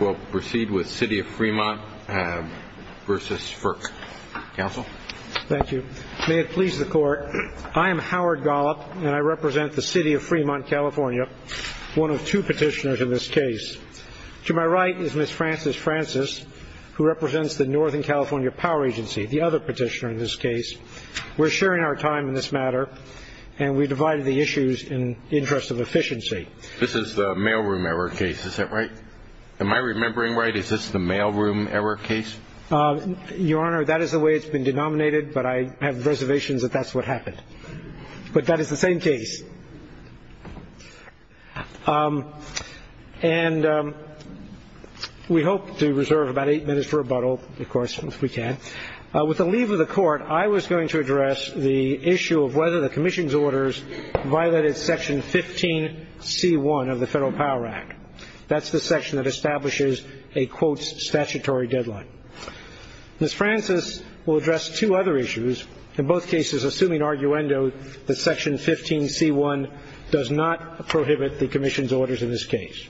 We'll proceed with City of Fremont v. FERC. Counsel? Thank you. May it please the Court, I am Howard Gollop, and I represent the City of Fremont, California, one of two petitioners in this case. To my right is Ms. Frances Francis, who represents the Northern California Power Agency, the other petitioner in this case. We're sharing our time in this matter, and we divided the issues in the interest of efficiency. This is the mailroom error case, is that right? Am I remembering right? Is this the mailroom error case? Your Honor, that is the way it's been denominated, but I have reservations that that's what happened. But that is the same case. And we hope to reserve about eight minutes for rebuttal, of course, if we can. With the leave of the Court, I was going to address the issue of whether the Commission's orders violated Section 15c1 of the Federal Power Act. That's the section that establishes a, quote, statutory deadline. Ms. Francis will address two other issues, in both cases assuming arguendo that Section 15c1 does not prohibit the Commission's orders in this case.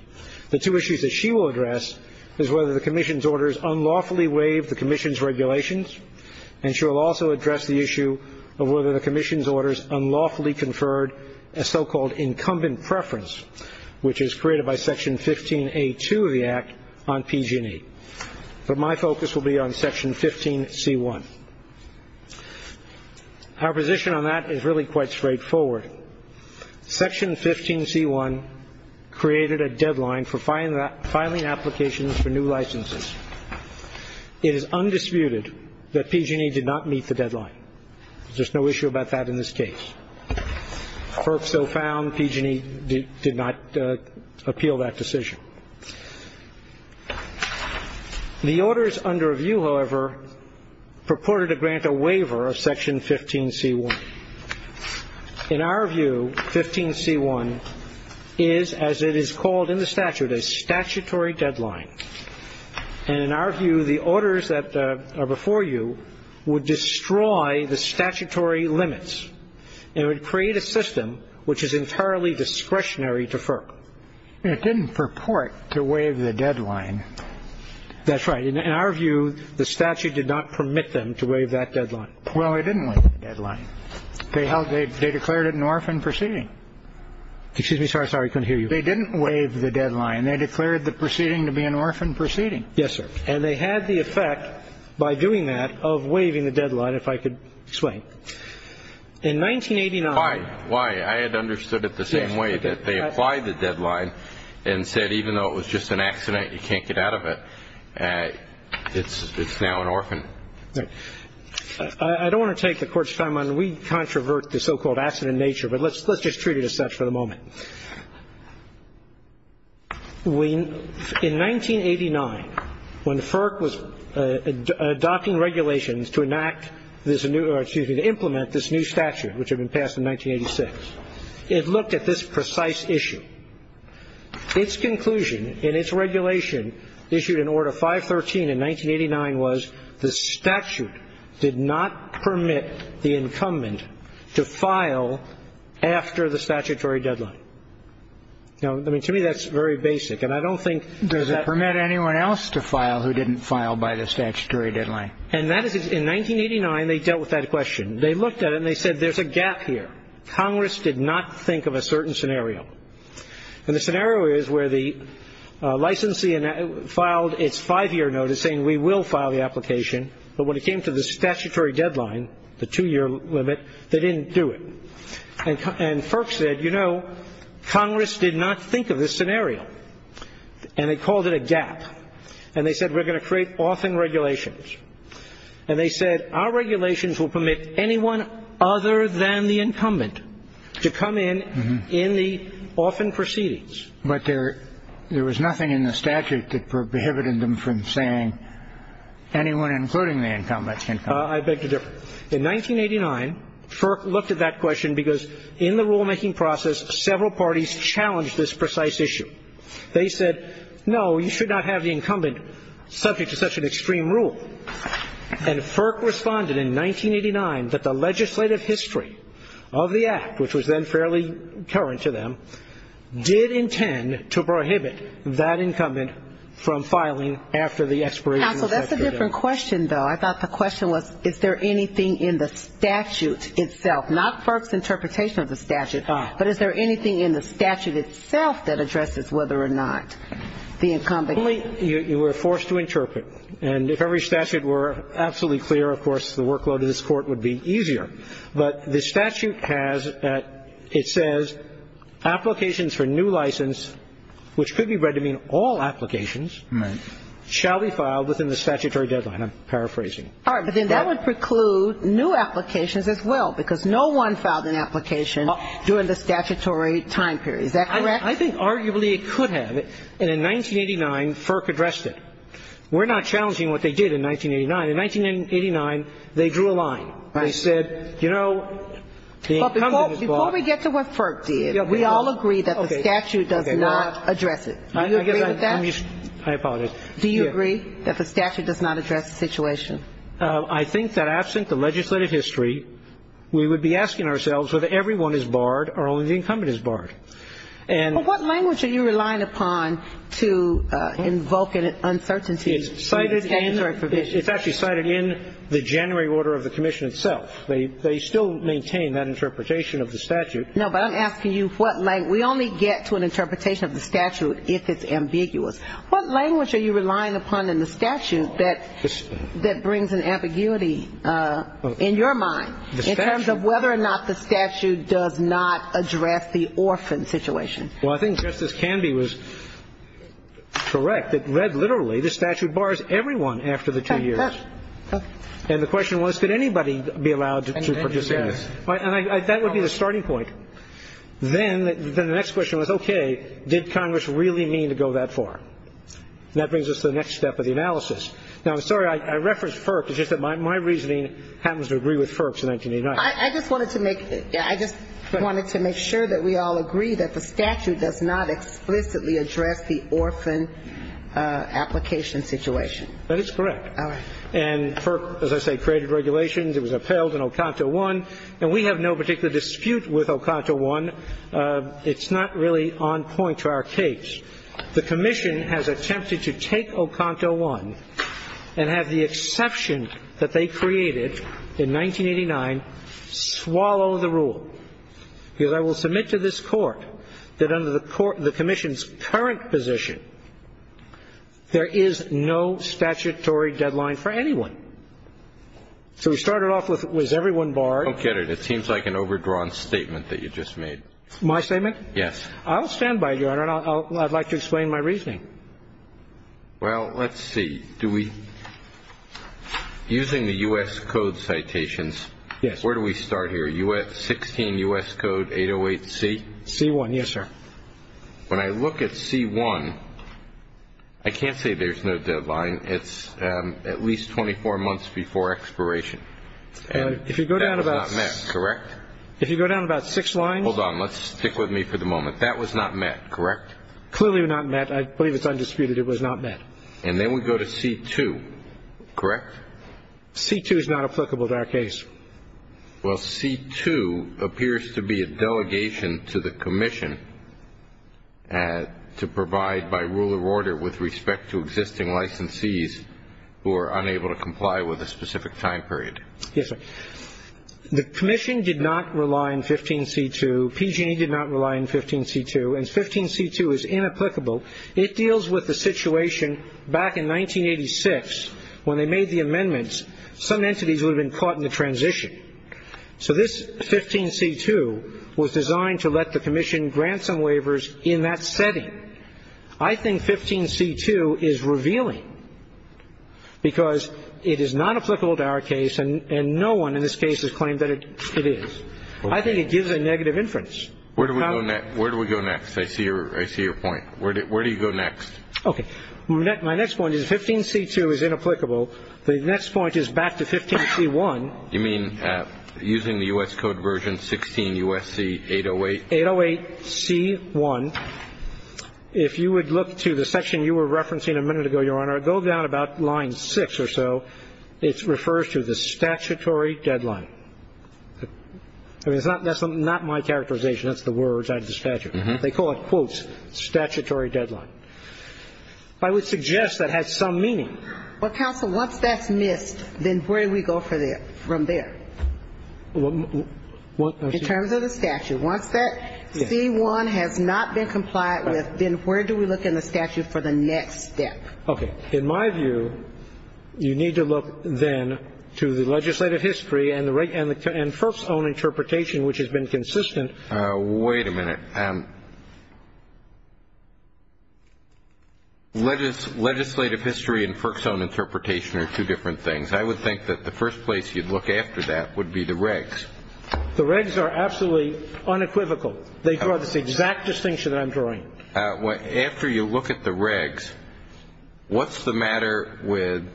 The two issues that she will address is whether the Commission's orders unlawfully waive the Commission's regulations, and she will also address the issue of whether the Commission's orders unlawfully conferred a so-called incumbent preference, which is created by Section 15a2 of the Act on PG&E. But my focus will be on Section 15c1. Our position on that is really quite straightforward. Section 15c1 created a deadline for filing applications for new licenses. It is undisputed that PG&E did not meet the deadline. There's no issue about that in this case. Or if so found, PG&E did not appeal that decision. The orders under review, however, purported to grant a waiver of Section 15c1. In our view, 15c1 is, as it is called in the statute, a statutory deadline. And in our view, the orders that are before you would destroy the statutory limits and would create a system which is entirely discretionary to FERC. It didn't purport to waive the deadline. That's right. In our view, the statute did not permit them to waive that deadline. Well, they didn't waive the deadline. They declared it an orphan proceeding. Excuse me. Sorry, I couldn't hear you. They didn't waive the deadline. They declared the proceeding to be an orphan proceeding. Yes, sir. And they had the effect, by doing that, of waiving the deadline, if I could explain. In 1989. Why? I had understood it the same way, that they applied the deadline and said, even though it was just an accident, you can't get out of it, it's now an orphan. I don't want to take the Court's time on it. We controvert the so-called accident nature, but let's just treat it as such for the moment. In 1989, when FERC was adopting regulations to enact this new or, excuse me, to implement this new statute, which had been passed in 1986, it looked at this precise issue. Its conclusion in its regulation, issued in order 513 in 1989, was the statute did not permit the incumbent to file after the statutory deadline. Now, I mean, to me, that's very basic. And I don't think that — Does it permit anyone else to file who didn't file by the statutory deadline? And that is — in 1989, they dealt with that question. They looked at it and they said, there's a gap here. Congress did not think of a certain scenario. And the scenario is where the licensee filed its five-year notice saying, we will file the application. But when it came to the statutory deadline, the two-year limit, they didn't do it. And FERC said, you know, Congress did not think of this scenario. And they called it a gap. And they said, we're going to create orphan regulations. And they said, our regulations will permit anyone other than the incumbent to come in in the orphan proceedings. But there was nothing in the statute that prohibited them from saying anyone including the incumbent can come. I beg to differ. In 1989, FERC looked at that question because in the rulemaking process, several parties challenged this precise issue. They said, no, you should not have the incumbent subject to such an extreme rule. And FERC responded in 1989 that the legislative history of the Act, which was then fairly current to them, did intend to prohibit that incumbent from filing after the expiration of that period. Counsel, that's a different question, though. I thought the question was, is there anything in the statute itself, not FERC's interpretation of the statute, but is there anything in the statute itself that addresses whether or not the incumbent can come. You were forced to interpret. And if every statute were absolutely clear, of course, the workload of this court would be easier. But the statute has that it says applications for new license, which could be read to mean all applications, shall be filed within the statutory deadline. I'm paraphrasing. All right. But then that would preclude new applications as well, because no one filed an application during the statutory time period. Is that correct? I think arguably it could have. And in 1989, FERC addressed it. We're not challenging what they did in 1989. In 1989, they drew a line. They said, you know, the incumbent is barred. Before we get to what FERC did, we all agree that the statute does not address it. Do you agree with that? I apologize. Do you agree that the statute does not address the situation? I think that absent the legislative history, we would be asking ourselves whether everyone is barred or only the incumbent is barred. And what language are you relying upon to invoke an uncertainty in the statutory provision? It's actually cited in the January order of the commission itself. They still maintain that interpretation of the statute. No, but I'm asking you what language. We only get to an interpretation of the statute if it's ambiguous. What language are you relying upon in the statute that brings an ambiguity in your mind in terms of whether or not the statute does not address the orphan situation? Well, I think Justice Canby was correct. The statute bars everyone after the two years. And the question was, could anybody be allowed to participate? And that would be the starting point. Then the next question was, okay, did Congress really mean to go that far? And that brings us to the next step of the analysis. Now, I'm sorry I referenced FERC. It's just that my reasoning happens to agree with FERC's in 1989. I just wanted to make sure that we all agree that the statute does not explicitly address the orphan application situation. That is correct. All right. And FERC, as I say, created regulations. It was upheld in Oconto I. And we have no particular dispute with Oconto I. It's not really on point to our case. The commission has attempted to take Oconto I and have the exception that they created in 1989 swallow the rule, because I will submit to this Court that under the commission's current position, there is no statutory deadline for anyone. So we started off with, was everyone barred? I don't get it. It seems like an overdrawn statement that you just made. My statement? Yes. I'll stand by it, Your Honor. I'd like to explain my reasoning. Well, let's see. Do we using the U.S. Code citations, where do we start here, 16 U.S. Code 808C? C-1, yes, sir. When I look at C-1, I can't say there's no deadline. It's at least 24 months before expiration. And that was not met, correct? If you go down about six lines. Hold on. Let's stick with me for the moment. That was not met, correct? Clearly not met. I believe it's undisputed it was not met. And then we go to C-2, correct? C-2 is not applicable to our case. Well, C-2 appears to be a delegation to the commission to provide, by rule of order, with respect to existing licensees who are unable to comply with a specific time period. Yes, sir. The commission did not rely on 15C-2. PG&E did not rely on 15C-2. And 15C-2 is inapplicable. and if the commission had relied on 15C-2, then in that case some entities would have been caught in the transition. So this 15C-2 was designed to let the commission grant some waivers in that setting. I think 15C-2 is revealing, because it is not applicable to our case, and no one in this case has claimed that it is. I think it gives a negative inference. Where do we go next? Where do we go next? I see your point. Where do you go next? Okay. My next point is 15C-2 is inapplicable. The next point is back to 15C-1. You mean using the U.S. Code version 16 U.S.C. 808? 808C-1. If you would look to the section you were referencing a minute ago, Your Honor, go down about line 6 or so. It refers to the statutory deadline. That's not my characterization. That's the words. I have the statute. They call it, quote, statutory deadline. I would suggest that has some meaning. Well, counsel, once that's missed, then where do we go from there? In terms of the statute. Once that C-1 has not been complied with, then where do we look in the statute for the next step? Okay. In my view, you need to look, then, to the legislative history and FERC's own interpretation, which has been consistent. Wait a minute. Legislative history and FERC's own interpretation are two different things. I would think that the first place you'd look after that would be the regs. The regs are absolutely unequivocal. They draw this exact distinction that I'm drawing. After you look at the regs, what's the matter with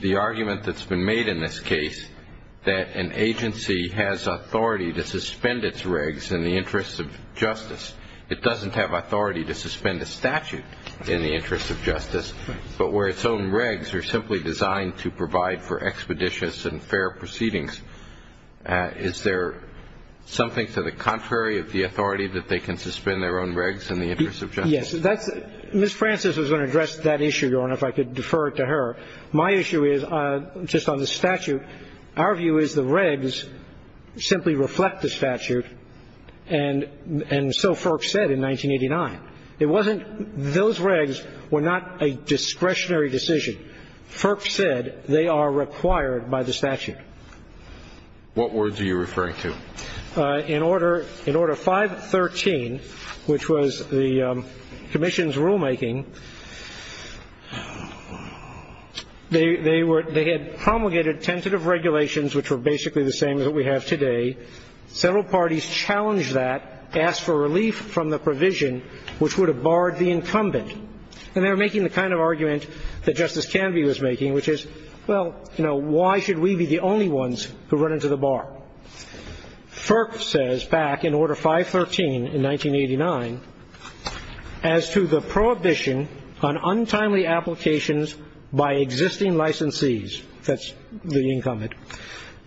the argument that's been made in this case that an agency has authority to suspend its regs in the interest of justice? It doesn't have authority to suspend a statute in the interest of justice. But where its own regs are simply designed to provide for expeditious and fair proceedings, is there something to the contrary of the authority that they can suspend their own regs in the interest of justice? Yes. Ms. Francis was going to address that issue, Your Honor, if I could defer it to her. My issue is just on the statute. Our view is the regs simply reflect the statute, and so FERC said in 1989. It wasn't those regs were not a discretionary decision. FERC said they are required by the statute. What words are you referring to? In order 513, which was the commission's rulemaking, they had promulgated tentative regulations, which were basically the same as what we have today. Several parties challenged that, asked for relief from the provision, which would have barred the incumbent. And they were making the kind of argument that Justice Canby was making, which is, well, you know, why should we be the only ones who run into the bar? FERC says back in Order 513 in 1989, as to the prohibition on untimely applications by existing licensees, that's the incumbent,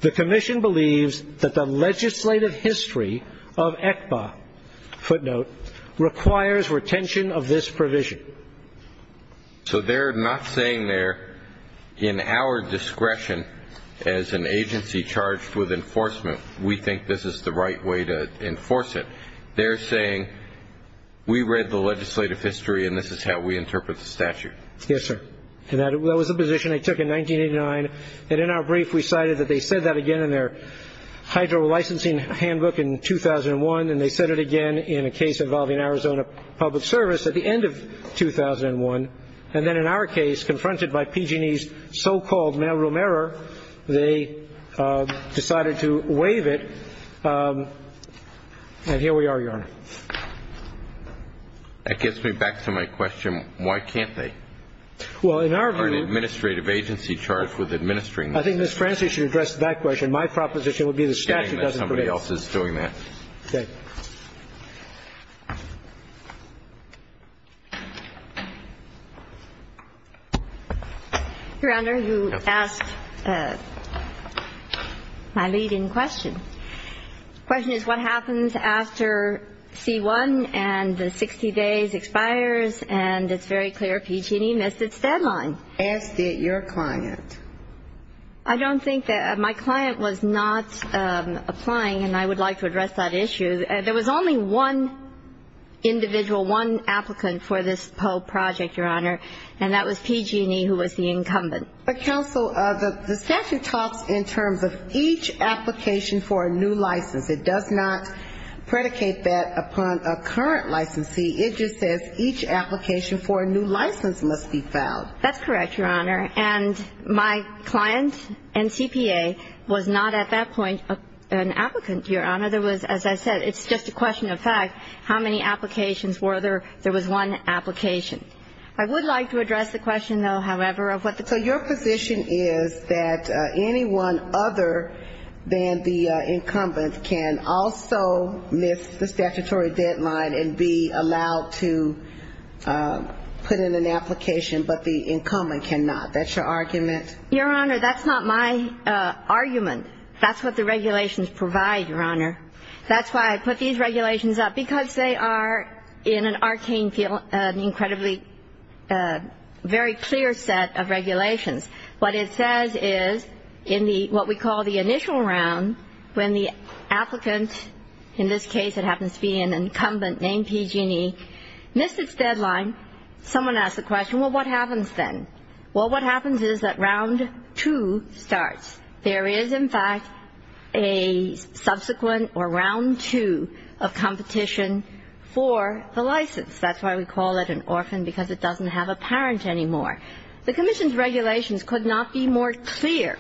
the commission believes that the legislative history of ECBA, footnote, requires retention of this provision. So they're not saying they're in our discretion as an agency charged with enforcement. We think this is the right way to enforce it. They're saying we read the legislative history, and this is how we interpret the statute. Yes, sir. And that was a position I took in 1989, and in our brief we cited that they said that again in their hydro licensing handbook in 2001, and they said it again in a case involving Arizona Public Service. At the end of 2001, and then in our case, confronted by PG&E's so-called mailroom error, they decided to waive it. And here we are, Your Honor. That gets me back to my question. Why can't they? Well, in our view. Or an administrative agency charged with administering this. I think Ms. Francis should address that question. My proposition would be the statute doesn't permit it. Somebody else is doing that. Okay. Your Honor, you asked my lead-in question. The question is what happens after C-1 and the 60 days expires, and it's very clear PG&E missed its deadline. Asked it your client. I don't think that. My client was not applying, and I would like to address that issue. There was only one individual, one applicant for this PO project, Your Honor, and that was PG&E, who was the incumbent. But, counsel, the statute talks in terms of each application for a new license. It does not predicate that upon a current licensee. It just says each application for a new license must be filed. That's correct, Your Honor. And my client, NCPA, was not at that point an applicant, Your Honor. There was, as I said, it's just a question of fact. How many applications were there? There was one application. I would like to address the question, though, however, of what the point is. So your position is that anyone other than the incumbent can also miss the statutory deadline and be allowed to put in an application, but the incumbent cannot. That's your argument? Your Honor, that's not my argument. That's what the regulations provide, Your Honor. That's why I put these regulations up, because they are, in an arcane field, an incredibly very clear set of regulations. What it says is, in what we call the initial round, when the applicant, in this case, it happens to be an incumbent named PG&E, missed its deadline, someone asked the question, well, what happens then? Well, what happens is that round two starts. There is, in fact, a subsequent or round two of competition for the license. That's why we call it an orphan, because it doesn't have a parent anymore. The commission's regulations could not be more clear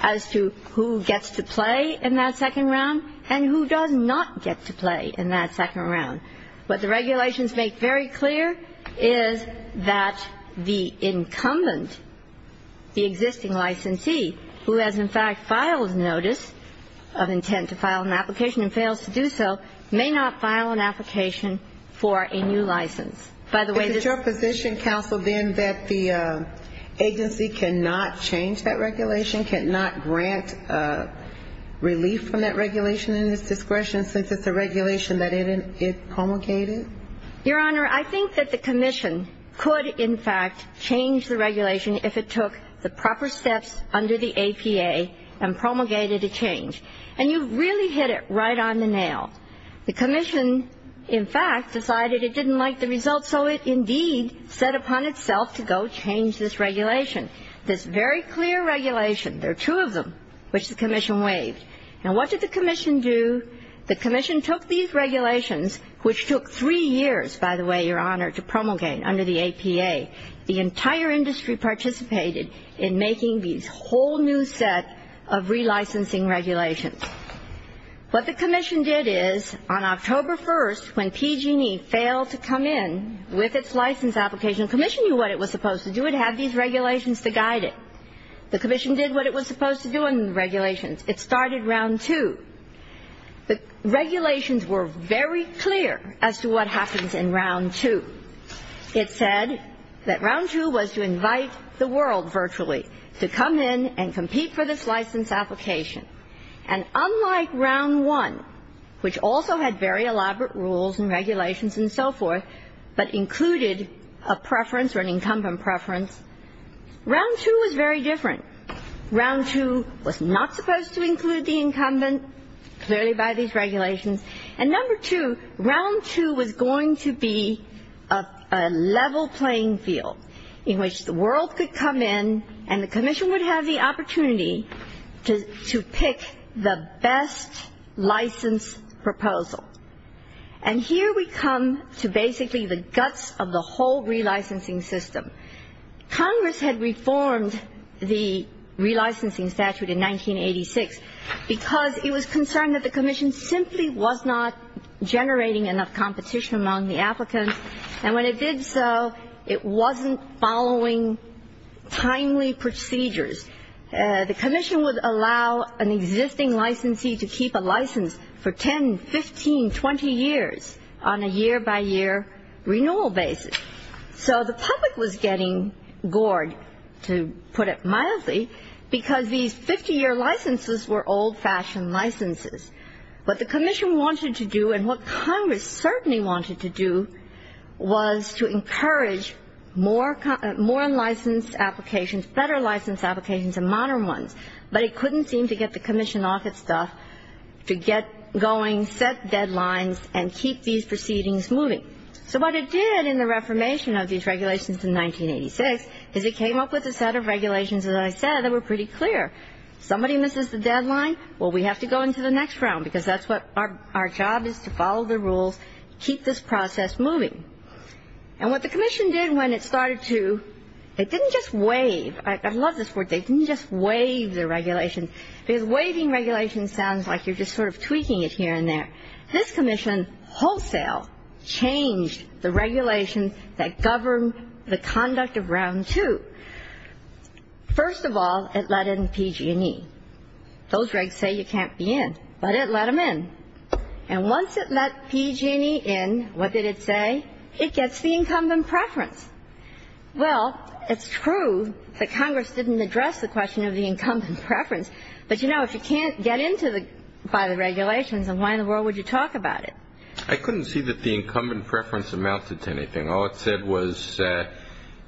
as to who gets to play in that second round and who does not get to play in that second round. What the regulations make very clear is that the incumbent, the existing licensee, who has, in fact, filed notice of intent to file an application and fails to do so, may not file an application for a new license. By the way, this ---- Is it your position, counsel, then, that the agency cannot change that regulation, cannot grant relief from that regulation in its discretion since it's a regulation that it promulgated? Your Honor, I think that the commission could, in fact, change the regulation if it took the proper steps under the APA and promulgated a change. And you really hit it right on the nail. The commission, in fact, decided it didn't like the result, so it indeed set upon itself to go change this regulation. This very clear regulation, there are two of them, which the commission waived. Now, what did the commission do? The commission took these regulations, which took three years, by the way, Your Honor, to promulgate under the APA. The entire industry participated in making these whole new set of relicensing regulations. What the commission did is, on October 1st, when PG&E failed to come in with its license application, the commission knew what it was supposed to do. It had these regulations to guide it. The commission did what it was supposed to do in the regulations. It started Round 2. The regulations were very clear as to what happens in Round 2. It said that Round 2 was to invite the world virtually to come in and compete for this license application. And unlike Round 1, which also had very elaborate rules and regulations and so forth, but included a preference or an incumbent preference, Round 2 was very different. Round 2 was not supposed to include the incumbent, clearly by these regulations. And number two, Round 2 was going to be a level playing field in which the world could come in and the commission would have the opportunity to pick the best license proposal. And here we come to basically the guts of the whole relicensing system. Congress had reformed the relicensing statute in 1986 because it was concerned that the commission simply was not generating enough competition among the applicants. And when it did so, it wasn't following timely procedures. The commission would allow an existing licensee to keep a license for 10, 15, 20 years on a year-by-year renewal basis. So the public was getting gored, to put it mildly, because these 50-year licenses were old-fashioned licenses. What the commission wanted to do and what Congress certainly wanted to do was to encourage more license applications, better license applications, and modern ones. But it couldn't seem to get the commission off its stuff to get going, set deadlines, and keep these proceedings moving. So what it did in the reformation of these regulations in 1986 is it came up with a set of regulations, as I said, that were pretty clear. If somebody misses the deadline, well, we have to go into the next round because that's what our job is, to follow the rules, keep this process moving. And what the commission did when it started to, it didn't just waive. I love this word. They didn't just waive the regulations. Because waiving regulations sounds like you're just sort of tweaking it here and there. This commission wholesale changed the regulations that govern the conduct of Round 2. First of all, it let in PG&E. Those regs say you can't be in. But it let them in. And once it let PG&E in, what did it say? It gets the incumbent preference. Well, it's true that Congress didn't address the question of the incumbent preference. But, you know, if you can't get in by the regulations, then why in the world would you talk about it? I couldn't see that the incumbent preference amounted to anything. All it said was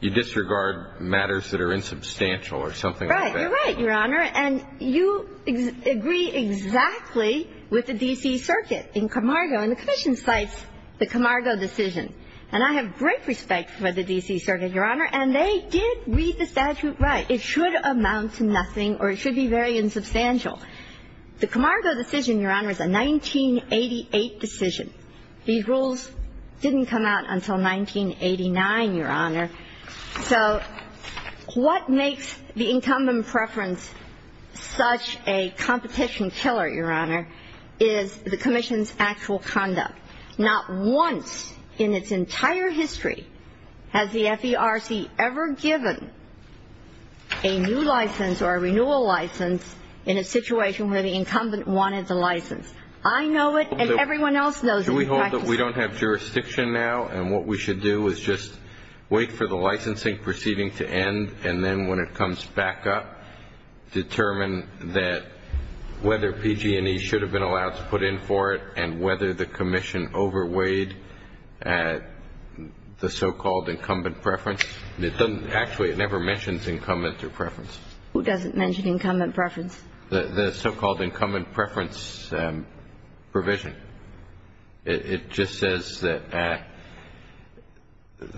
you disregard matters that are insubstantial or something like that. Right. You're right, Your Honor. And you agree exactly with the D.C. Circuit in Camargo. And the commission cites the Camargo decision. And I have great respect for the D.C. Circuit, Your Honor. And they did read the statute right. It should amount to nothing or it should be very insubstantial. The Camargo decision, Your Honor, is a 1988 decision. These rules didn't come out until 1989, Your Honor. So what makes the incumbent preference such a competition killer, Your Honor, is the commission's actual conduct. Not once in its entire history has the FERC ever given a new license or a renewal license in a situation where the incumbent wanted the license. I know it and everyone else knows it. We hold that we don't have jurisdiction now and what we should do is just wait for the licensing proceeding to end and then when it comes back up, determine that whether PG&E should have been allowed to put in for it and whether the commission overweighed the so-called incumbent preference. Actually, it never mentions incumbent or preference. Who doesn't mention incumbent preference? The so-called incumbent preference provision. It just says that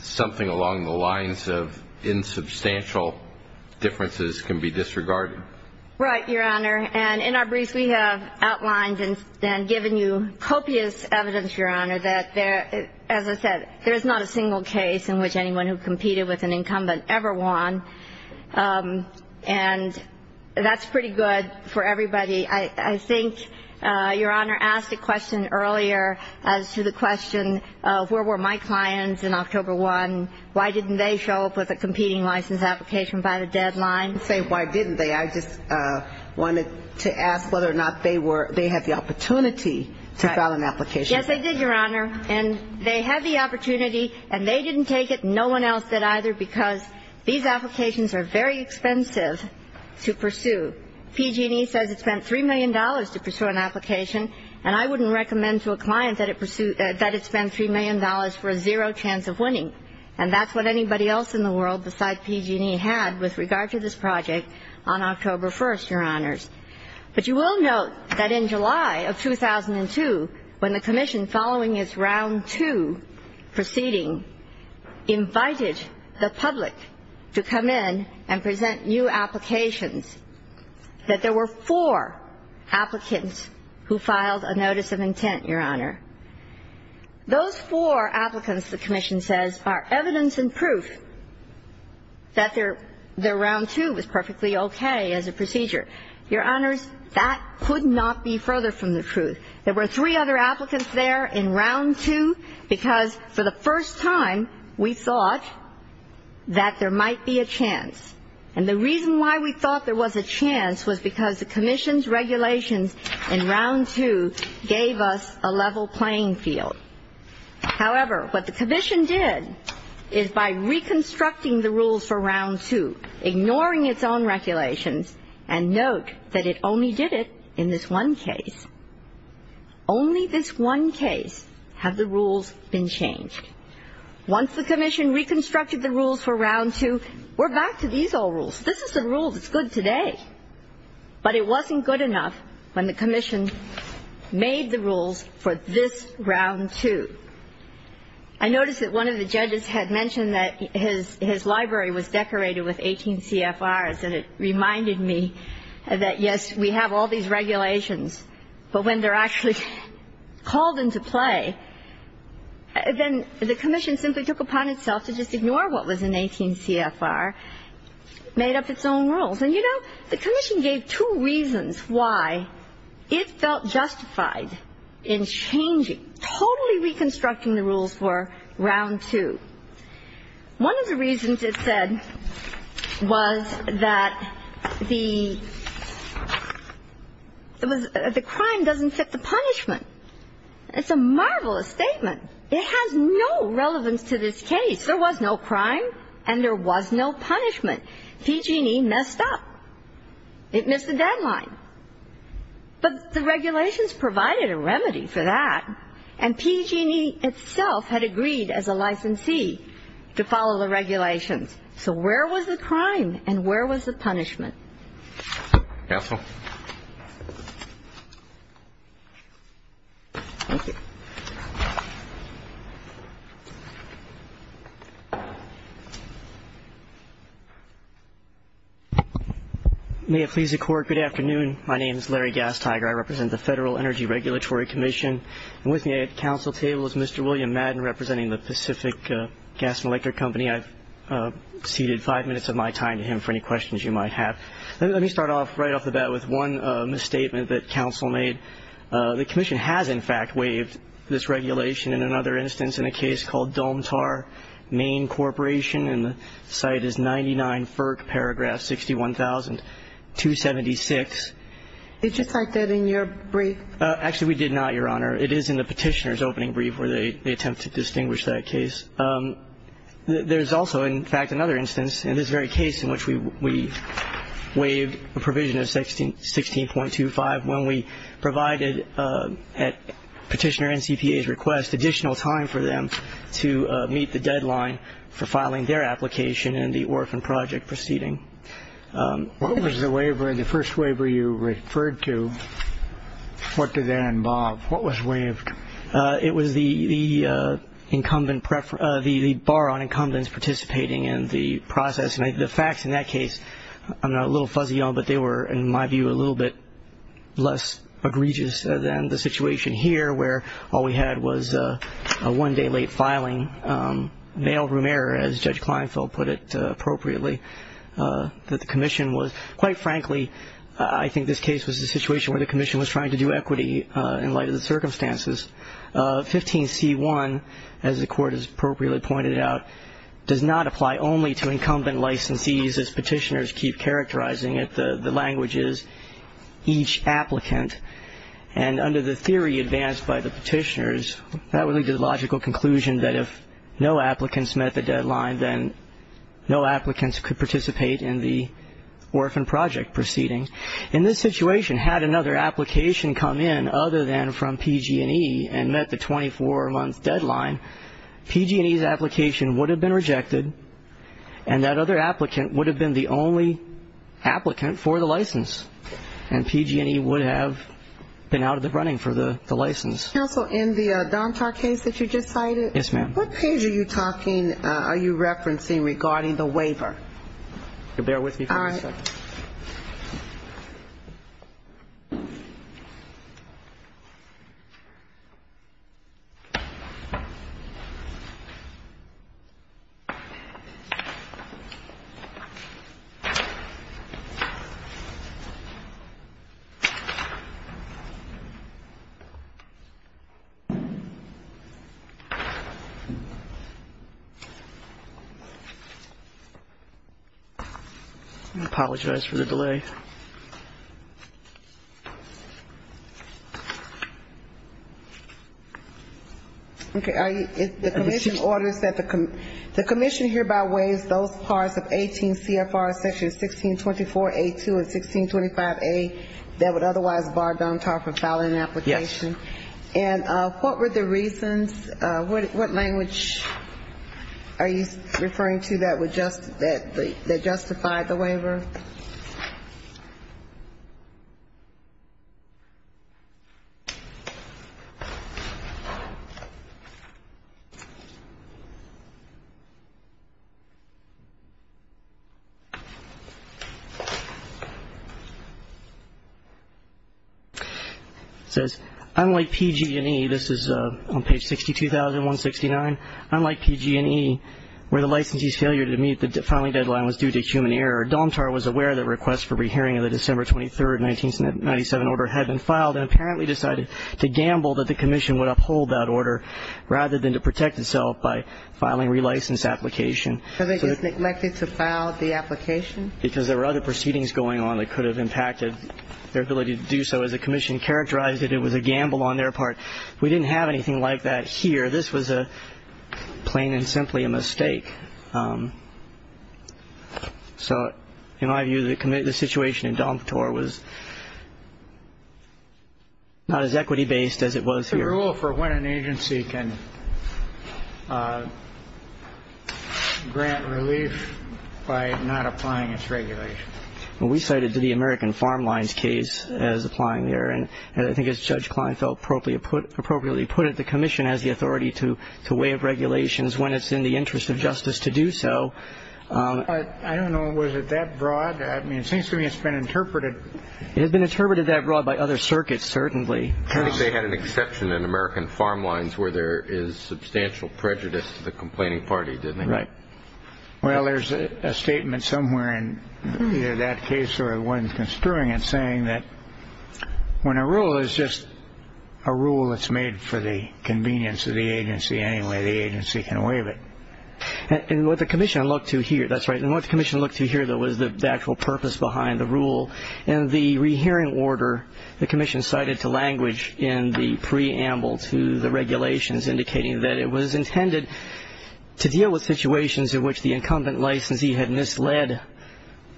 something along the lines of insubstantial differences can be disregarded. Right, Your Honor. And in our briefs we have outlined and given you copious evidence, Your Honor, that, as I said, there is not a single case in which anyone who competed with an incumbent ever won. And that's pretty good for everybody. I think Your Honor asked a question earlier as to the question of where were my clients in October 1? Why didn't they show up with a competing license application by the deadline? I didn't say why didn't they. I just wanted to ask whether or not they had the opportunity to file an application. Yes, they did, Your Honor, and they had the opportunity and they didn't take it And no one else did either because these applications are very expensive to pursue. PG&E says it spent $3 million to pursue an application, and I wouldn't recommend to a client that it spend $3 million for a zero chance of winning. And that's what anybody else in the world besides PG&E had with regard to this project on October 1, Your Honors. But you will note that in July of 2002, when the Commission, following its Round 2 proceeding, invited the public to come in and present new applications, that there were four applicants who filed a notice of intent, Your Honor. Those four applicants, the Commission says, are evidence and proof that their Round 2 was perfectly okay as a procedure. Your Honors, that could not be further from the truth. There were three other applicants there in Round 2 because for the first time we thought that there might be a chance. And the reason why we thought there was a chance was because the Commission's regulations in Round 2 gave us a level playing field. However, what the Commission did is by reconstructing the rules for Round 2, ignoring its own regulations, and note that it only did it in this one case. Only this one case have the rules been changed. Once the Commission reconstructed the rules for Round 2, we're back to these old rules. This is the rule that's good today. But it wasn't good enough when the Commission made the rules for this Round 2. I noticed that one of the judges had mentioned that his library was decorated with 18 CFRs, and it reminded me that, yes, we have all these regulations, but when they're actually called into play, then the Commission simply took upon itself to just ignore what was in 18 CFR, made up its own rules. And, you know, the Commission gave two reasons why it felt justified in changing, totally reconstructing the rules for Round 2. One of the reasons it said was that the crime doesn't fit the punishment. It's a marvelous statement. It has no relevance to this case. There was no crime and there was no punishment. PG&E messed up. It missed the deadline. But the regulations provided a remedy for that, and PG&E itself had agreed as a licensee to follow the regulations. So where was the crime and where was the punishment? Counsel. Thank you. May it please the Court, good afternoon. My name is Larry Gastiger. I represent the Federal Energy Regulatory Commission. And with me at the Council table is Mr. William Madden, representing the Pacific Gas and Electric Company. I've ceded five minutes of my time to him for any questions you might have. Let me start off right off the bat with one misstatement that Council made. The Commission has, in fact, waived this regulation in another instance, in a case called Domtar, Maine Corporation. And the site is 99 FERC, paragraph 61,276. Did you cite that in your brief? Actually, we did not, Your Honor. It is in the Petitioner's opening brief where they attempt to distinguish that case. There is also, in fact, another instance in this very case in which we waived a provision of 16.25 when we provided at Petitioner and CPA's request additional time for them to meet the deadline for filing their application in the orphan project proceeding. What was the waiver, the first waiver you referred to? What did that involve? What was waived? It was the bar on incumbents participating in the process. The facts in that case, I'm a little fuzzy on, but they were, in my view, a little bit less egregious than the situation here where all we had was a one-day late filing, mail-room error, as Judge Kleinfeld put it appropriately, that the Commission was. Quite frankly, I think this case was a situation where the Commission was trying to do equity in light of the circumstances. 15C1, as the Court has appropriately pointed out, does not apply only to incumbent licensees, as Petitioners keep characterizing it. The language is each applicant. And under the theory advanced by the Petitioners, that would lead to the logical conclusion that if no applicants met the deadline, then no applicants could participate in the orphan project proceeding. In this situation, had another application come in other than from PG&E and met the 24-month deadline, PG&E's application would have been rejected, and that other applicant would have been the only applicant for the license, and PG&E would have been out of the running for the license. Counsel, in the Dontar case that you just cited? Yes, ma'am. What page are you talking – are you referencing regarding the waiver? If you'll bear with me for just a second. All right. Apologize for the delay. Okay. The Commission orders that the – the Commission hereby waives those parts of 18 CFR section 1624A2 and 1625A that would otherwise bar Dontar from filing an application. Yes. Are you referring to that that justified the waiver? All right. It says, unlike PG&E – this is on page 62,169 – unlike PG&E, where the licensee's failure to meet the filing deadline was due to human error, Dontar was aware that requests for rehearing of the December 23, 1997 order had been filed and apparently decided to gamble that the Commission would uphold that order rather than to protect itself by filing a relicensed application. So they just neglected to file the application? Because there were other proceedings going on that could have impacted their ability to do so. As the Commission characterized it, it was a gamble on their part. We didn't have anything like that here. This was a plain and simply a mistake. So in my view, the situation in Dontar was not as equity-based as it was here. The rule for when an agency can grant relief by not applying its regulation. Well, we cited the American Farm Lines case as applying the error, and I think as Judge Kleinfeld appropriately put it, the Commission has the authority to waive regulations when it's in the interest of justice to do so. I don't know. Was it that broad? I mean, it seems to me it's been interpreted. It has been interpreted that broad by other circuits, certainly. I think they had an exception in American Farm Lines where there is substantial prejudice to the complaining party, didn't they? Right. Well, there's a statement somewhere in either that case or the one construing it saying that when a rule is just a rule that's made for the convenience of the agency anyway, the agency can waive it. And what the Commission looked to here, that's right, and what the Commission looked to here, though, was the actual purpose behind the rule. In the rehearing order, the Commission cited to language in the preamble to the regulations indicating that it was intended to deal with situations in which the incumbent licensee had misled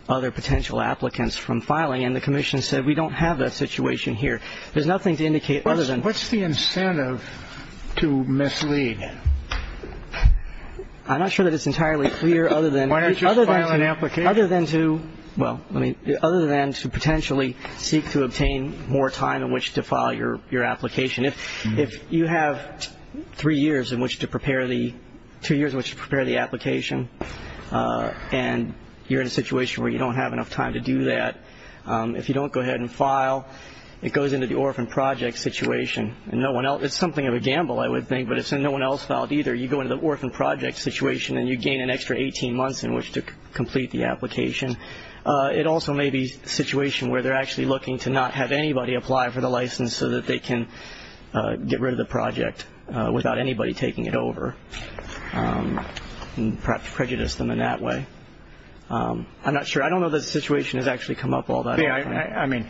other potential applicants from filing, and the Commission said we don't have that situation here. There's nothing to indicate other than. What's the incentive to mislead? I'm not sure that it's entirely clear other than. Why don't you file an application? Other than to, well, other than to potentially seek to obtain more time in which to file your application. If you have three years in which to prepare the, two years in which to prepare the application and you're in a situation where you don't have enough time to do that, if you don't go ahead and file, it goes into the orphan project situation. It's something of a gamble, I would think, but it's no one else filed either. You go into the orphan project situation and you gain an extra 18 months in which to complete the application. It also may be a situation where they're actually looking to not have anybody apply for the license so that they can get rid of the project without anybody taking it over. Perhaps prejudice them in that way. I'm not sure. I don't know that the situation has actually come up all that often. I mean,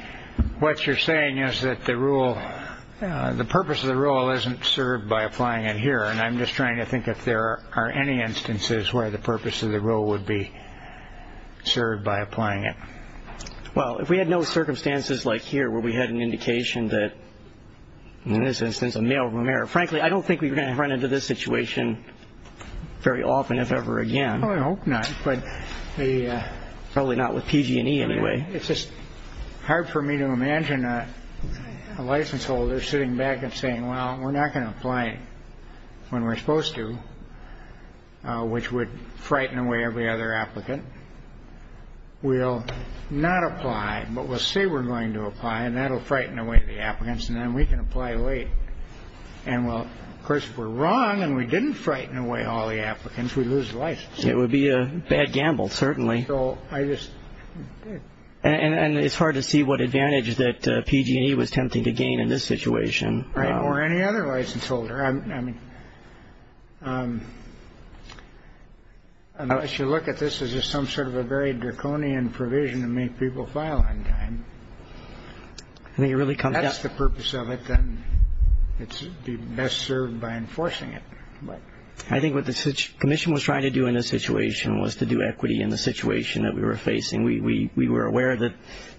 what you're saying is that the rule, the purpose of the rule isn't served by applying it here, and I'm just trying to think if there are any instances where the purpose of the rule would be served by applying it. Well, if we had no circumstances like here where we had an indication that, in this instance, a male room error. Frankly, I don't think we're going to run into this situation very often, if ever again. I hope not. But probably not with PG&E anyway. It's just hard for me to imagine a license holder sitting back and saying, well, we're not going to apply when we're supposed to, which would frighten away every other applicant. We'll not apply, but we'll say we're going to apply, and that'll frighten away the applicants, and then we can apply late. And, well, of course, if we're wrong and we didn't frighten away all the applicants, we'd lose the license. It would be a bad gamble, certainly. So I just. And it's hard to see what advantage that PG&E was tempting to gain in this situation. Or any other license holder. Unless you look at this as just some sort of a very draconian provision to make people file on time. If that's the purpose of it, then it should be best served by enforcing it. I think what the commission was trying to do in this situation was to do equity in the situation that we were facing. We were aware that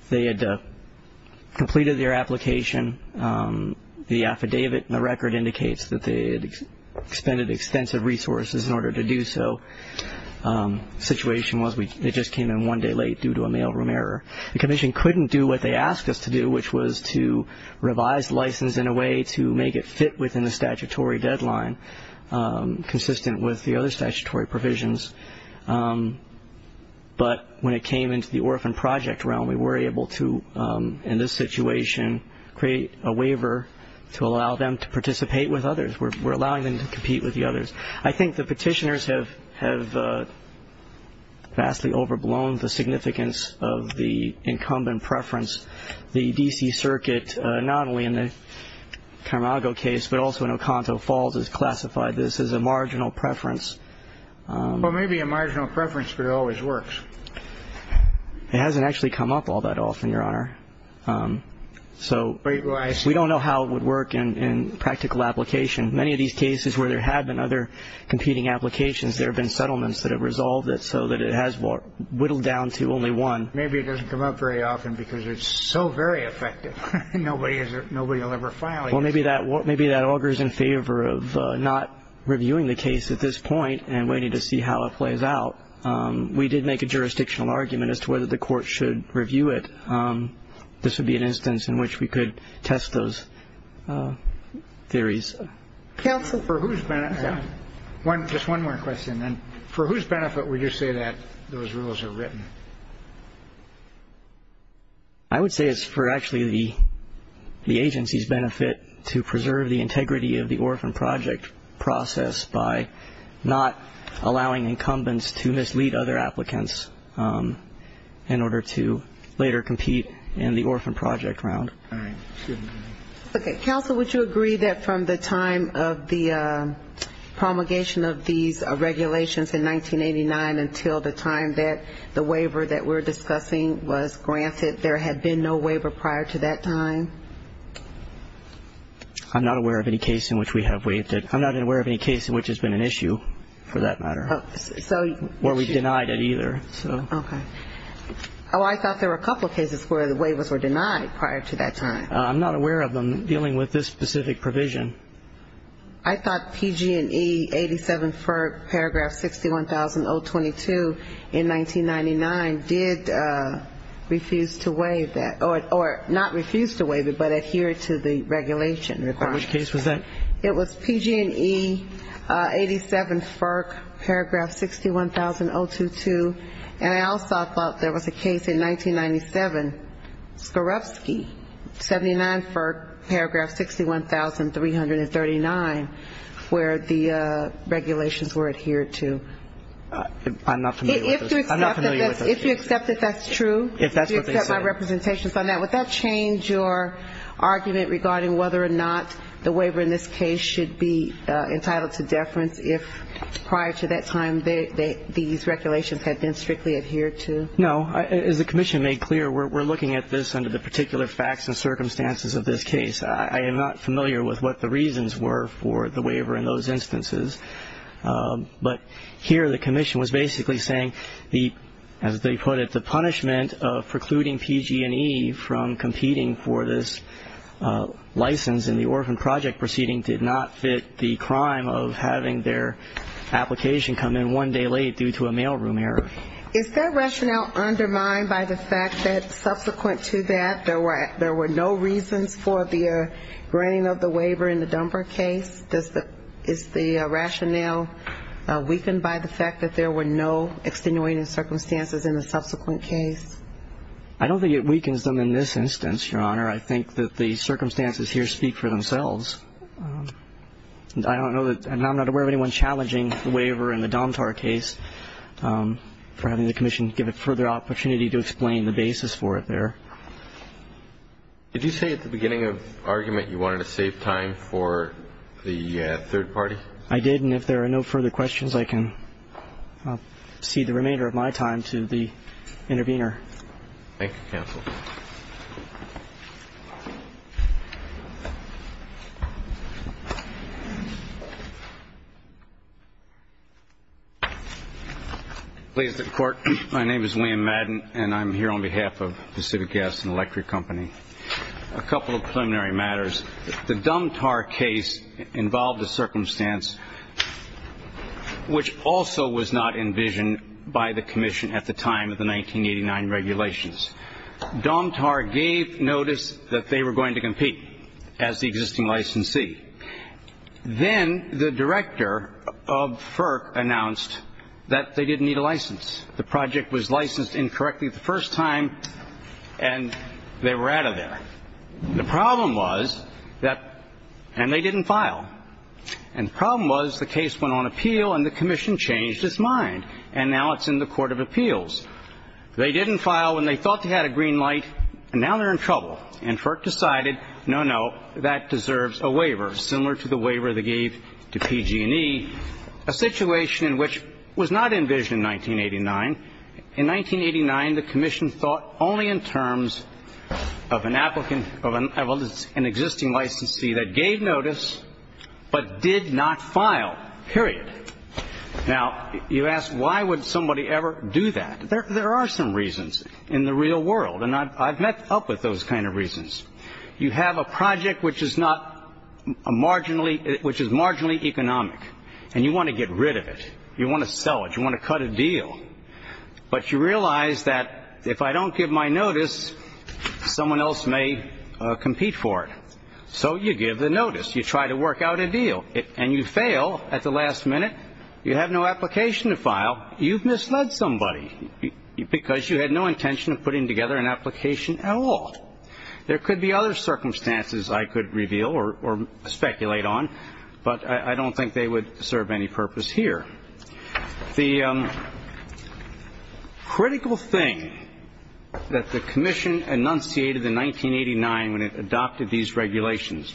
they had completed their application. The affidavit in the record indicates that they had expended extensive resources in order to do so. The situation was it just came in one day late due to a mailroom error. The commission couldn't do what they asked us to do, which was to revise the license in a way to make it fit within the statutory deadline, consistent with the other statutory provisions. But when it came into the orphan project realm, we were able to, in this situation, create a waiver to allow them to participate with others. We're allowing them to compete with the others. I think the petitioners have vastly overblown the significance of the incumbent preference. The D.C. Circuit, not only in the Camargo case, but also in Oconto Falls, has classified this as a marginal preference. Well, maybe a marginal preference, but it always works. It hasn't actually come up all that often, Your Honor. So we don't know how it would work in practical application. Many of these cases where there have been other competing applications, there have been settlements that have resolved it so that it has whittled down to only one. Maybe it doesn't come up very often because it's so very effective nobody will ever file it. Well, maybe that augers in favor of not reviewing the case at this point and waiting to see how it plays out. We did make a jurisdictional argument as to whether the court should review it. This would be an instance in which we could test those theories. Counsel, for whose benefit? Just one more question, then. For whose benefit would you say that those rules are written? I would say it's for actually the agency's benefit to preserve the integrity of the orphan project process by not allowing incumbents to mislead other applicants in order to later compete in the orphan project round. All right. Excuse me. Okay. Counsel, would you agree that from the time of the promulgation of these regulations in 1989 until the time that the waiver that we're discussing was granted, there had been no waiver prior to that time? I'm not aware of any case in which we have waived it. I'm not aware of any case in which it's been an issue, for that matter, where we've denied it either. Okay. Oh, I thought there were a couple of cases where the waivers were denied prior to that time. I'm not aware of them dealing with this specific provision. I thought PG&E 87 Ferg paragraph 61022 in 1999 did refuse to waive that, or not refuse to waive it, but adhere to the regulation requirements. Which case was that? It was PG&E 87 Ferg paragraph 61022. And I also thought there was a case in 1997, Skorupski 79 Ferg paragraph 61339, where the regulations were adhered to. I'm not familiar with those cases. If you accept that that's true, if you accept my representations on that, would that change your argument regarding whether or not the waiver in this case should be entitled to deference if prior to that time these regulations had been strictly adhered to? No. As the commission made clear, we're looking at this under the particular facts and circumstances of this case. I am not familiar with what the reasons were for the waiver in those instances. But here the commission was basically saying, as they put it, the punishment of precluding PG&E from competing for this license in the orphan project proceeding did not fit the crime of having their application come in one day late due to a mailroom error. Is that rationale undermined by the fact that subsequent to that, there were no reasons for the granting of the waiver in the Dunbar case? Is the rationale weakened by the fact that there were no extenuating circumstances in the subsequent case? I don't think it weakens them in this instance, Your Honor. I think that the circumstances here speak for themselves. I don't know that ñ and I'm not aware of anyone challenging the waiver in the Dunbar case for having the commission give it further opportunity to explain the basis for it there. Did you say at the beginning of argument you wanted to save time for the third party? I did. And if there are no further questions, I can cede the remainder of my time to the intervener. Thank you, counsel. Please. Ladies and court, my name is William Madden, and I'm here on behalf of Pacific Gas and Electric Company. A couple of preliminary matters. The Dunbar case involved a circumstance which also was not envisioned by the commission at the time of the 1989 regulations. Domtar gave notice that they were going to compete as the existing licensee. Then the director of FERC announced that they didn't need a license. The project was licensed incorrectly the first time, and they were out of there. The problem was that ñ and they didn't file. And the problem was the case went on appeal, and the commission changed its mind, and now it's in the court of appeals. They didn't file when they thought they had a green light, and now they're in trouble. And FERC decided, no, no, that deserves a waiver, similar to the waiver they gave to PG&E, a situation in which was not envisioned in 1989. In 1989, the commission thought only in terms of an applicant of an existing licensee that gave notice but did not file, period. Now, you ask, why would somebody ever do that? There are some reasons in the real world, and I've met up with those kind of reasons. You have a project which is not a marginally ñ which is marginally economic, and you want to get rid of it. You want to sell it. You want to cut a deal. But you realize that if I don't give my notice, someone else may compete for it. So you give the notice. You try to work out a deal, and you fail at the last minute. You have no application to file. You've misled somebody because you had no intention of putting together an application at all. There could be other circumstances I could reveal or speculate on, but I don't think they would serve any purpose here. The critical thing that the commission enunciated in 1989 when it adopted these regulations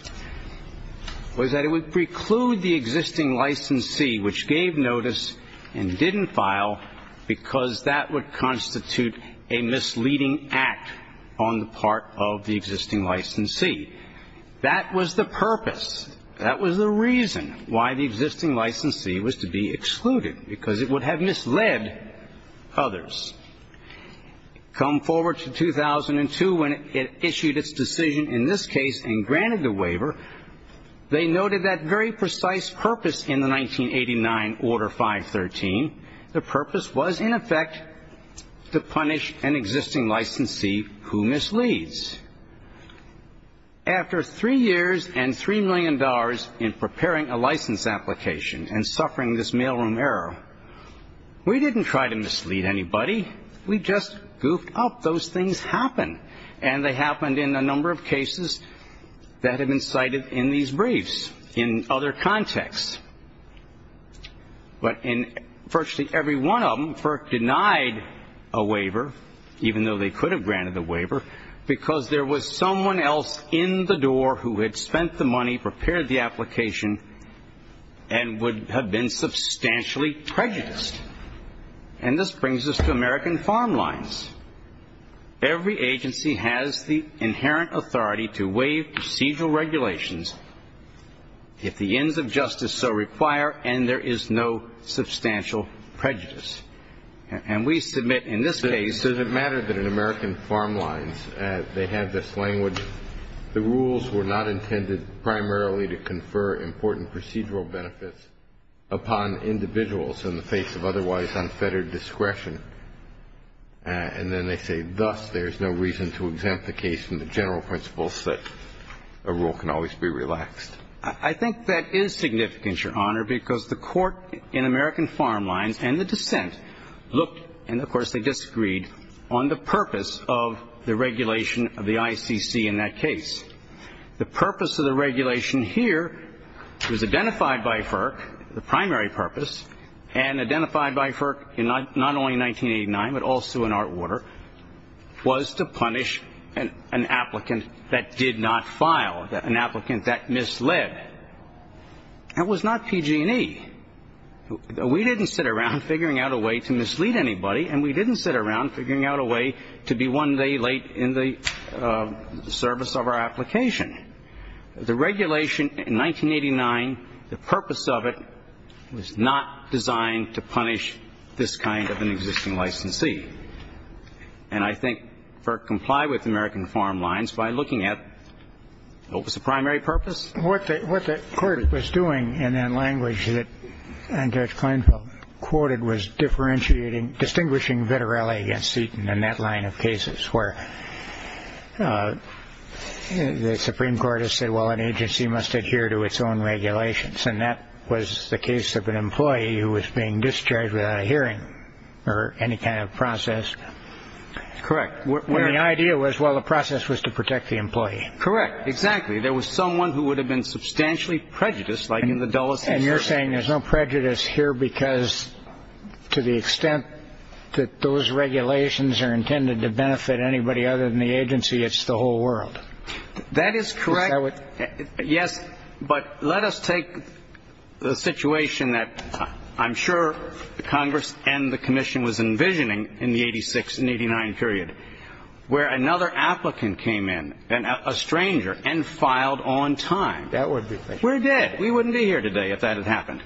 was that it would preclude the existing licensee which gave notice and didn't file because that would constitute a misleading act on the part of the existing licensee. That was the purpose. That was the reason why the existing licensee was to be excluded, because it would have misled others. Come forward to 2002 when it issued its decision in this case and granted the waiver, they noted that very precise purpose in the 1989 Order 513. The purpose was, in effect, to punish an existing licensee who misleads. After three years and $3 million in preparing a license application and suffering this mailroom error, we didn't try to mislead anybody. We just goofed up. Those things happen. And they happened in a number of cases that have been cited in these briefs in other contexts. But in virtually every one of them, FERC denied a waiver, even though they could have granted a waiver, because there was someone else in the door who had spent the money, prepared the application, and would have been substantially prejudiced. And this brings us to American Farm Lines. Every agency has the inherent authority to waive procedural regulations if the ends of justice so require, and there is no substantial prejudice. And we submit in this case that it's a matter that in American Farm Lines they have this language, the rules were not intended primarily to confer important procedural benefits upon individuals in the face of otherwise unfettered discretion. And then they say, thus, there is no reason to exempt the case from the general principles that a rule can always be relaxed. I think that is significant, Your Honor, because the court in American Farm Lines and the dissent looked, and of course they disagreed, on the purpose of the regulation of the ICC in that case. The purpose of the regulation here was identified by FERC, the primary purpose, and identified by FERC not only in 1989, but also in our order, was to punish an applicant that did not file, an applicant that misled. That was not PG&E. We didn't sit around figuring out a way to mislead anybody, and we didn't sit around figuring out a way to be one day late in the service of our application. The regulation in 1989, the purpose of it was not designed to punish this kind of an existing licensee. And I think FERC complied with American Farm Lines by looking at what was the primary purpose. What the court was doing in that language that Judge Kleinfeld quoted was differentiating, distinguishing vitrioli against seton in that line of cases where the Supreme Court has said, well, an agency must adhere to its own regulations, and that was the case of an employee who was being discharged without a hearing or any kind of process. Correct. The idea was, well, the process was to protect the employee. Correct. Exactly. There was someone who would have been substantially prejudiced, like in the Dulles case. And you're saying there's no prejudice here because to the extent that those regulations are intended to benefit anybody other than the agency, it's the whole world. That is correct. Yes. But let us take the situation that I'm sure the Congress and the commission was envisioning in the 86 and 89 period, where another applicant came in, a stranger, and filed on time. That would be. We're dead. We wouldn't be here today if that had happened.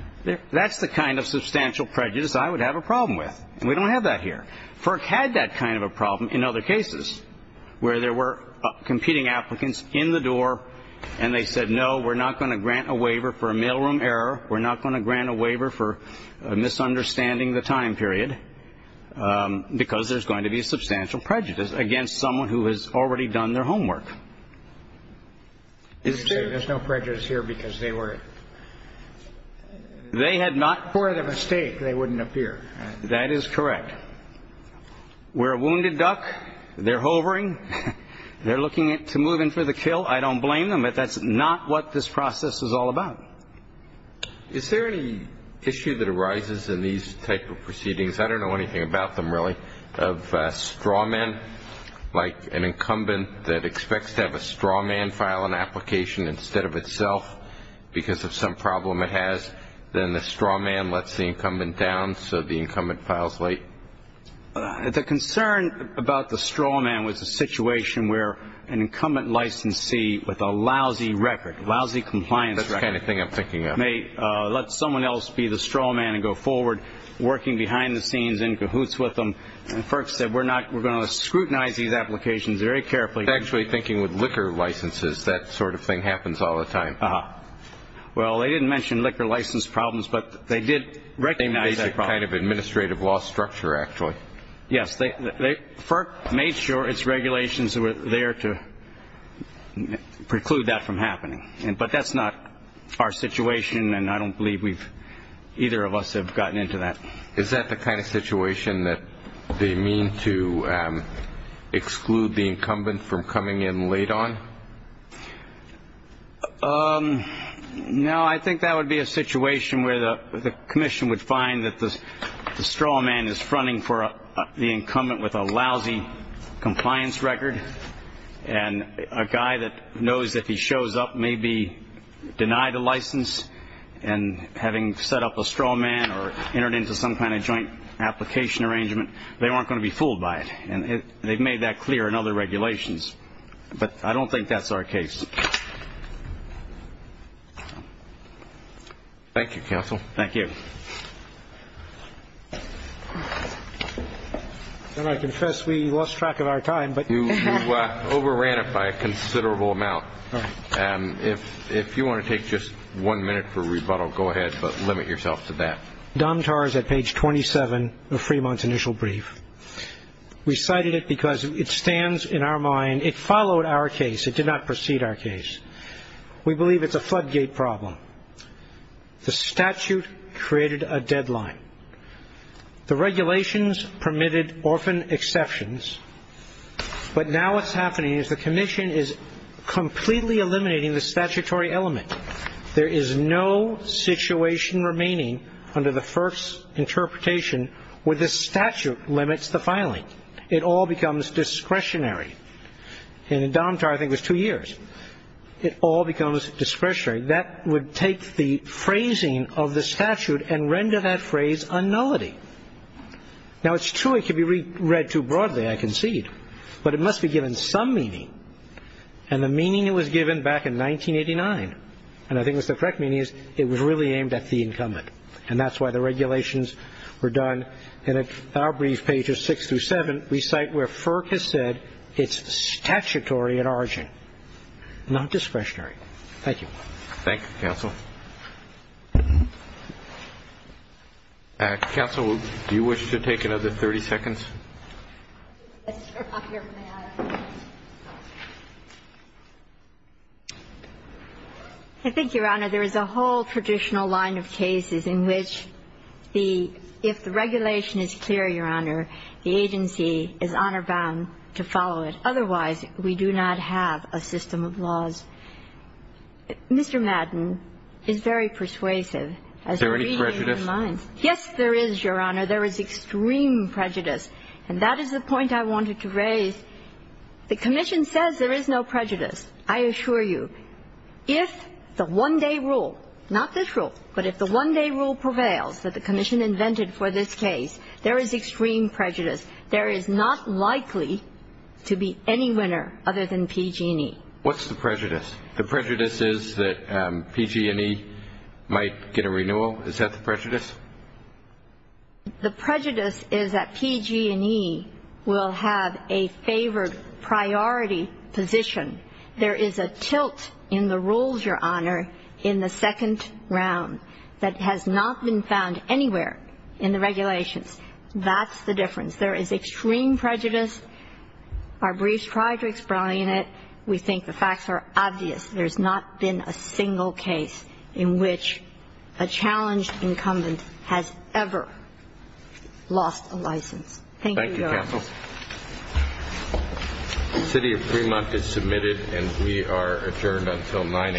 That's the kind of substantial prejudice I would have a problem with. We don't have that here. FERC had that kind of a problem in other cases where there were competing applicants in the door and they said, no, we're not going to grant a waiver for a mailroom error. We're not going to grant a waiver for a misunderstanding the time period because there's going to be substantial prejudice against someone who has already done their homework. There's no prejudice here because they were. They had not. For the mistake, they wouldn't appear. That is correct. We're a wounded duck. They're hovering. They're looking to move in for the kill. I don't blame them. But that's not what this process is all about. Is there any issue that arises in these type of proceedings? I don't know anything about them really. Of a straw man, like an incumbent that expects to have a straw man file an application instead of itself because of some problem it has. Then the straw man lets the incumbent down so the incumbent files late. The concern about the straw man was a situation where an incumbent licensee with a lousy record, lousy compliance record. That's the kind of thing I'm thinking of. Let someone else be the straw man and go forward working behind the scenes in cahoots with them. And FERC said we're going to scrutinize these applications very carefully. Actually, thinking with liquor licenses, that sort of thing happens all the time. Well, they didn't mention liquor license problems, but they did recognize that problem. Same basic kind of administrative law structure, actually. Yes. FERC made sure its regulations were there to preclude that from happening. But that's not our situation, and I don't believe either of us have gotten into that. Is that the kind of situation that they mean to exclude the incumbent from coming in late on? No, I think that would be a situation where the commission would find that the straw man is fronting for the incumbent with a lousy compliance record. And a guy that knows that he shows up may be denied a license. And having set up a straw man or entered into some kind of joint application arrangement, they weren't going to be fooled by it. And they've made that clear in other regulations. But I don't think that's our case. Thank you, counsel. Thank you. And I confess we lost track of our time. But you overran it by a considerable amount. And if you want to take just one minute for rebuttal, go ahead, but limit yourself to that. Dom Tarr is at page 27 of Fremont's initial brief. We cited it because it stands in our mind. It followed our case. It did not precede our case. We believe it's a floodgate problem. The statute created a deadline. The regulations permitted orphan exceptions. But now what's happening is the commission is completely eliminating the statutory element. There is no situation remaining under the first interpretation where the statute limits the filing. It all becomes discretionary. And in Dom Tarr, I think it was two years. It all becomes discretionary. That would take the phrasing of the statute and render that phrase a nullity. Now, it's true it could be read too broadly, I concede. But it must be given some meaning. And the meaning it was given back in 1989, and I think it was the correct meaning, is it was really aimed at the incumbent. And that's why the regulations were done in our brief pages six through seven. We cite where FERC has said it's statutory at origin, not discretionary. Thank you. Thank you, counsel. Counsel, do you wish to take another 30 seconds? Yes, Your Honor, may I? I think, Your Honor, there is a whole traditional line of cases in which the ‑‑ if the regulation is clear, Your Honor, the agency is honor bound to follow it. Mr. Madden is very persuasive. Is there any prejudice? Yes, there is, Your Honor. There is extreme prejudice. And that is the point I wanted to raise. The commission says there is no prejudice. I assure you, if the one‑day rule, not this rule, but if the one‑day rule prevails that the commission invented for this case, there is extreme prejudice. There is not likely to be any winner other than PG&E. What's the prejudice? The prejudice is that PG&E might get a renewal? Is that the prejudice? The prejudice is that PG&E will have a favored priority position. There is a tilt in the rules, Your Honor, in the second round that has not been found anywhere in the regulations. That's the difference. There is extreme prejudice. Our briefs try to explain it. We think the facts are obvious. There has not been a single case in which a challenged incumbent has ever lost a license. Thank you, Your Honor. Thank you, counsel. The city of Fremont is submitted, and we are adjourned until 9 a.m. tomorrow.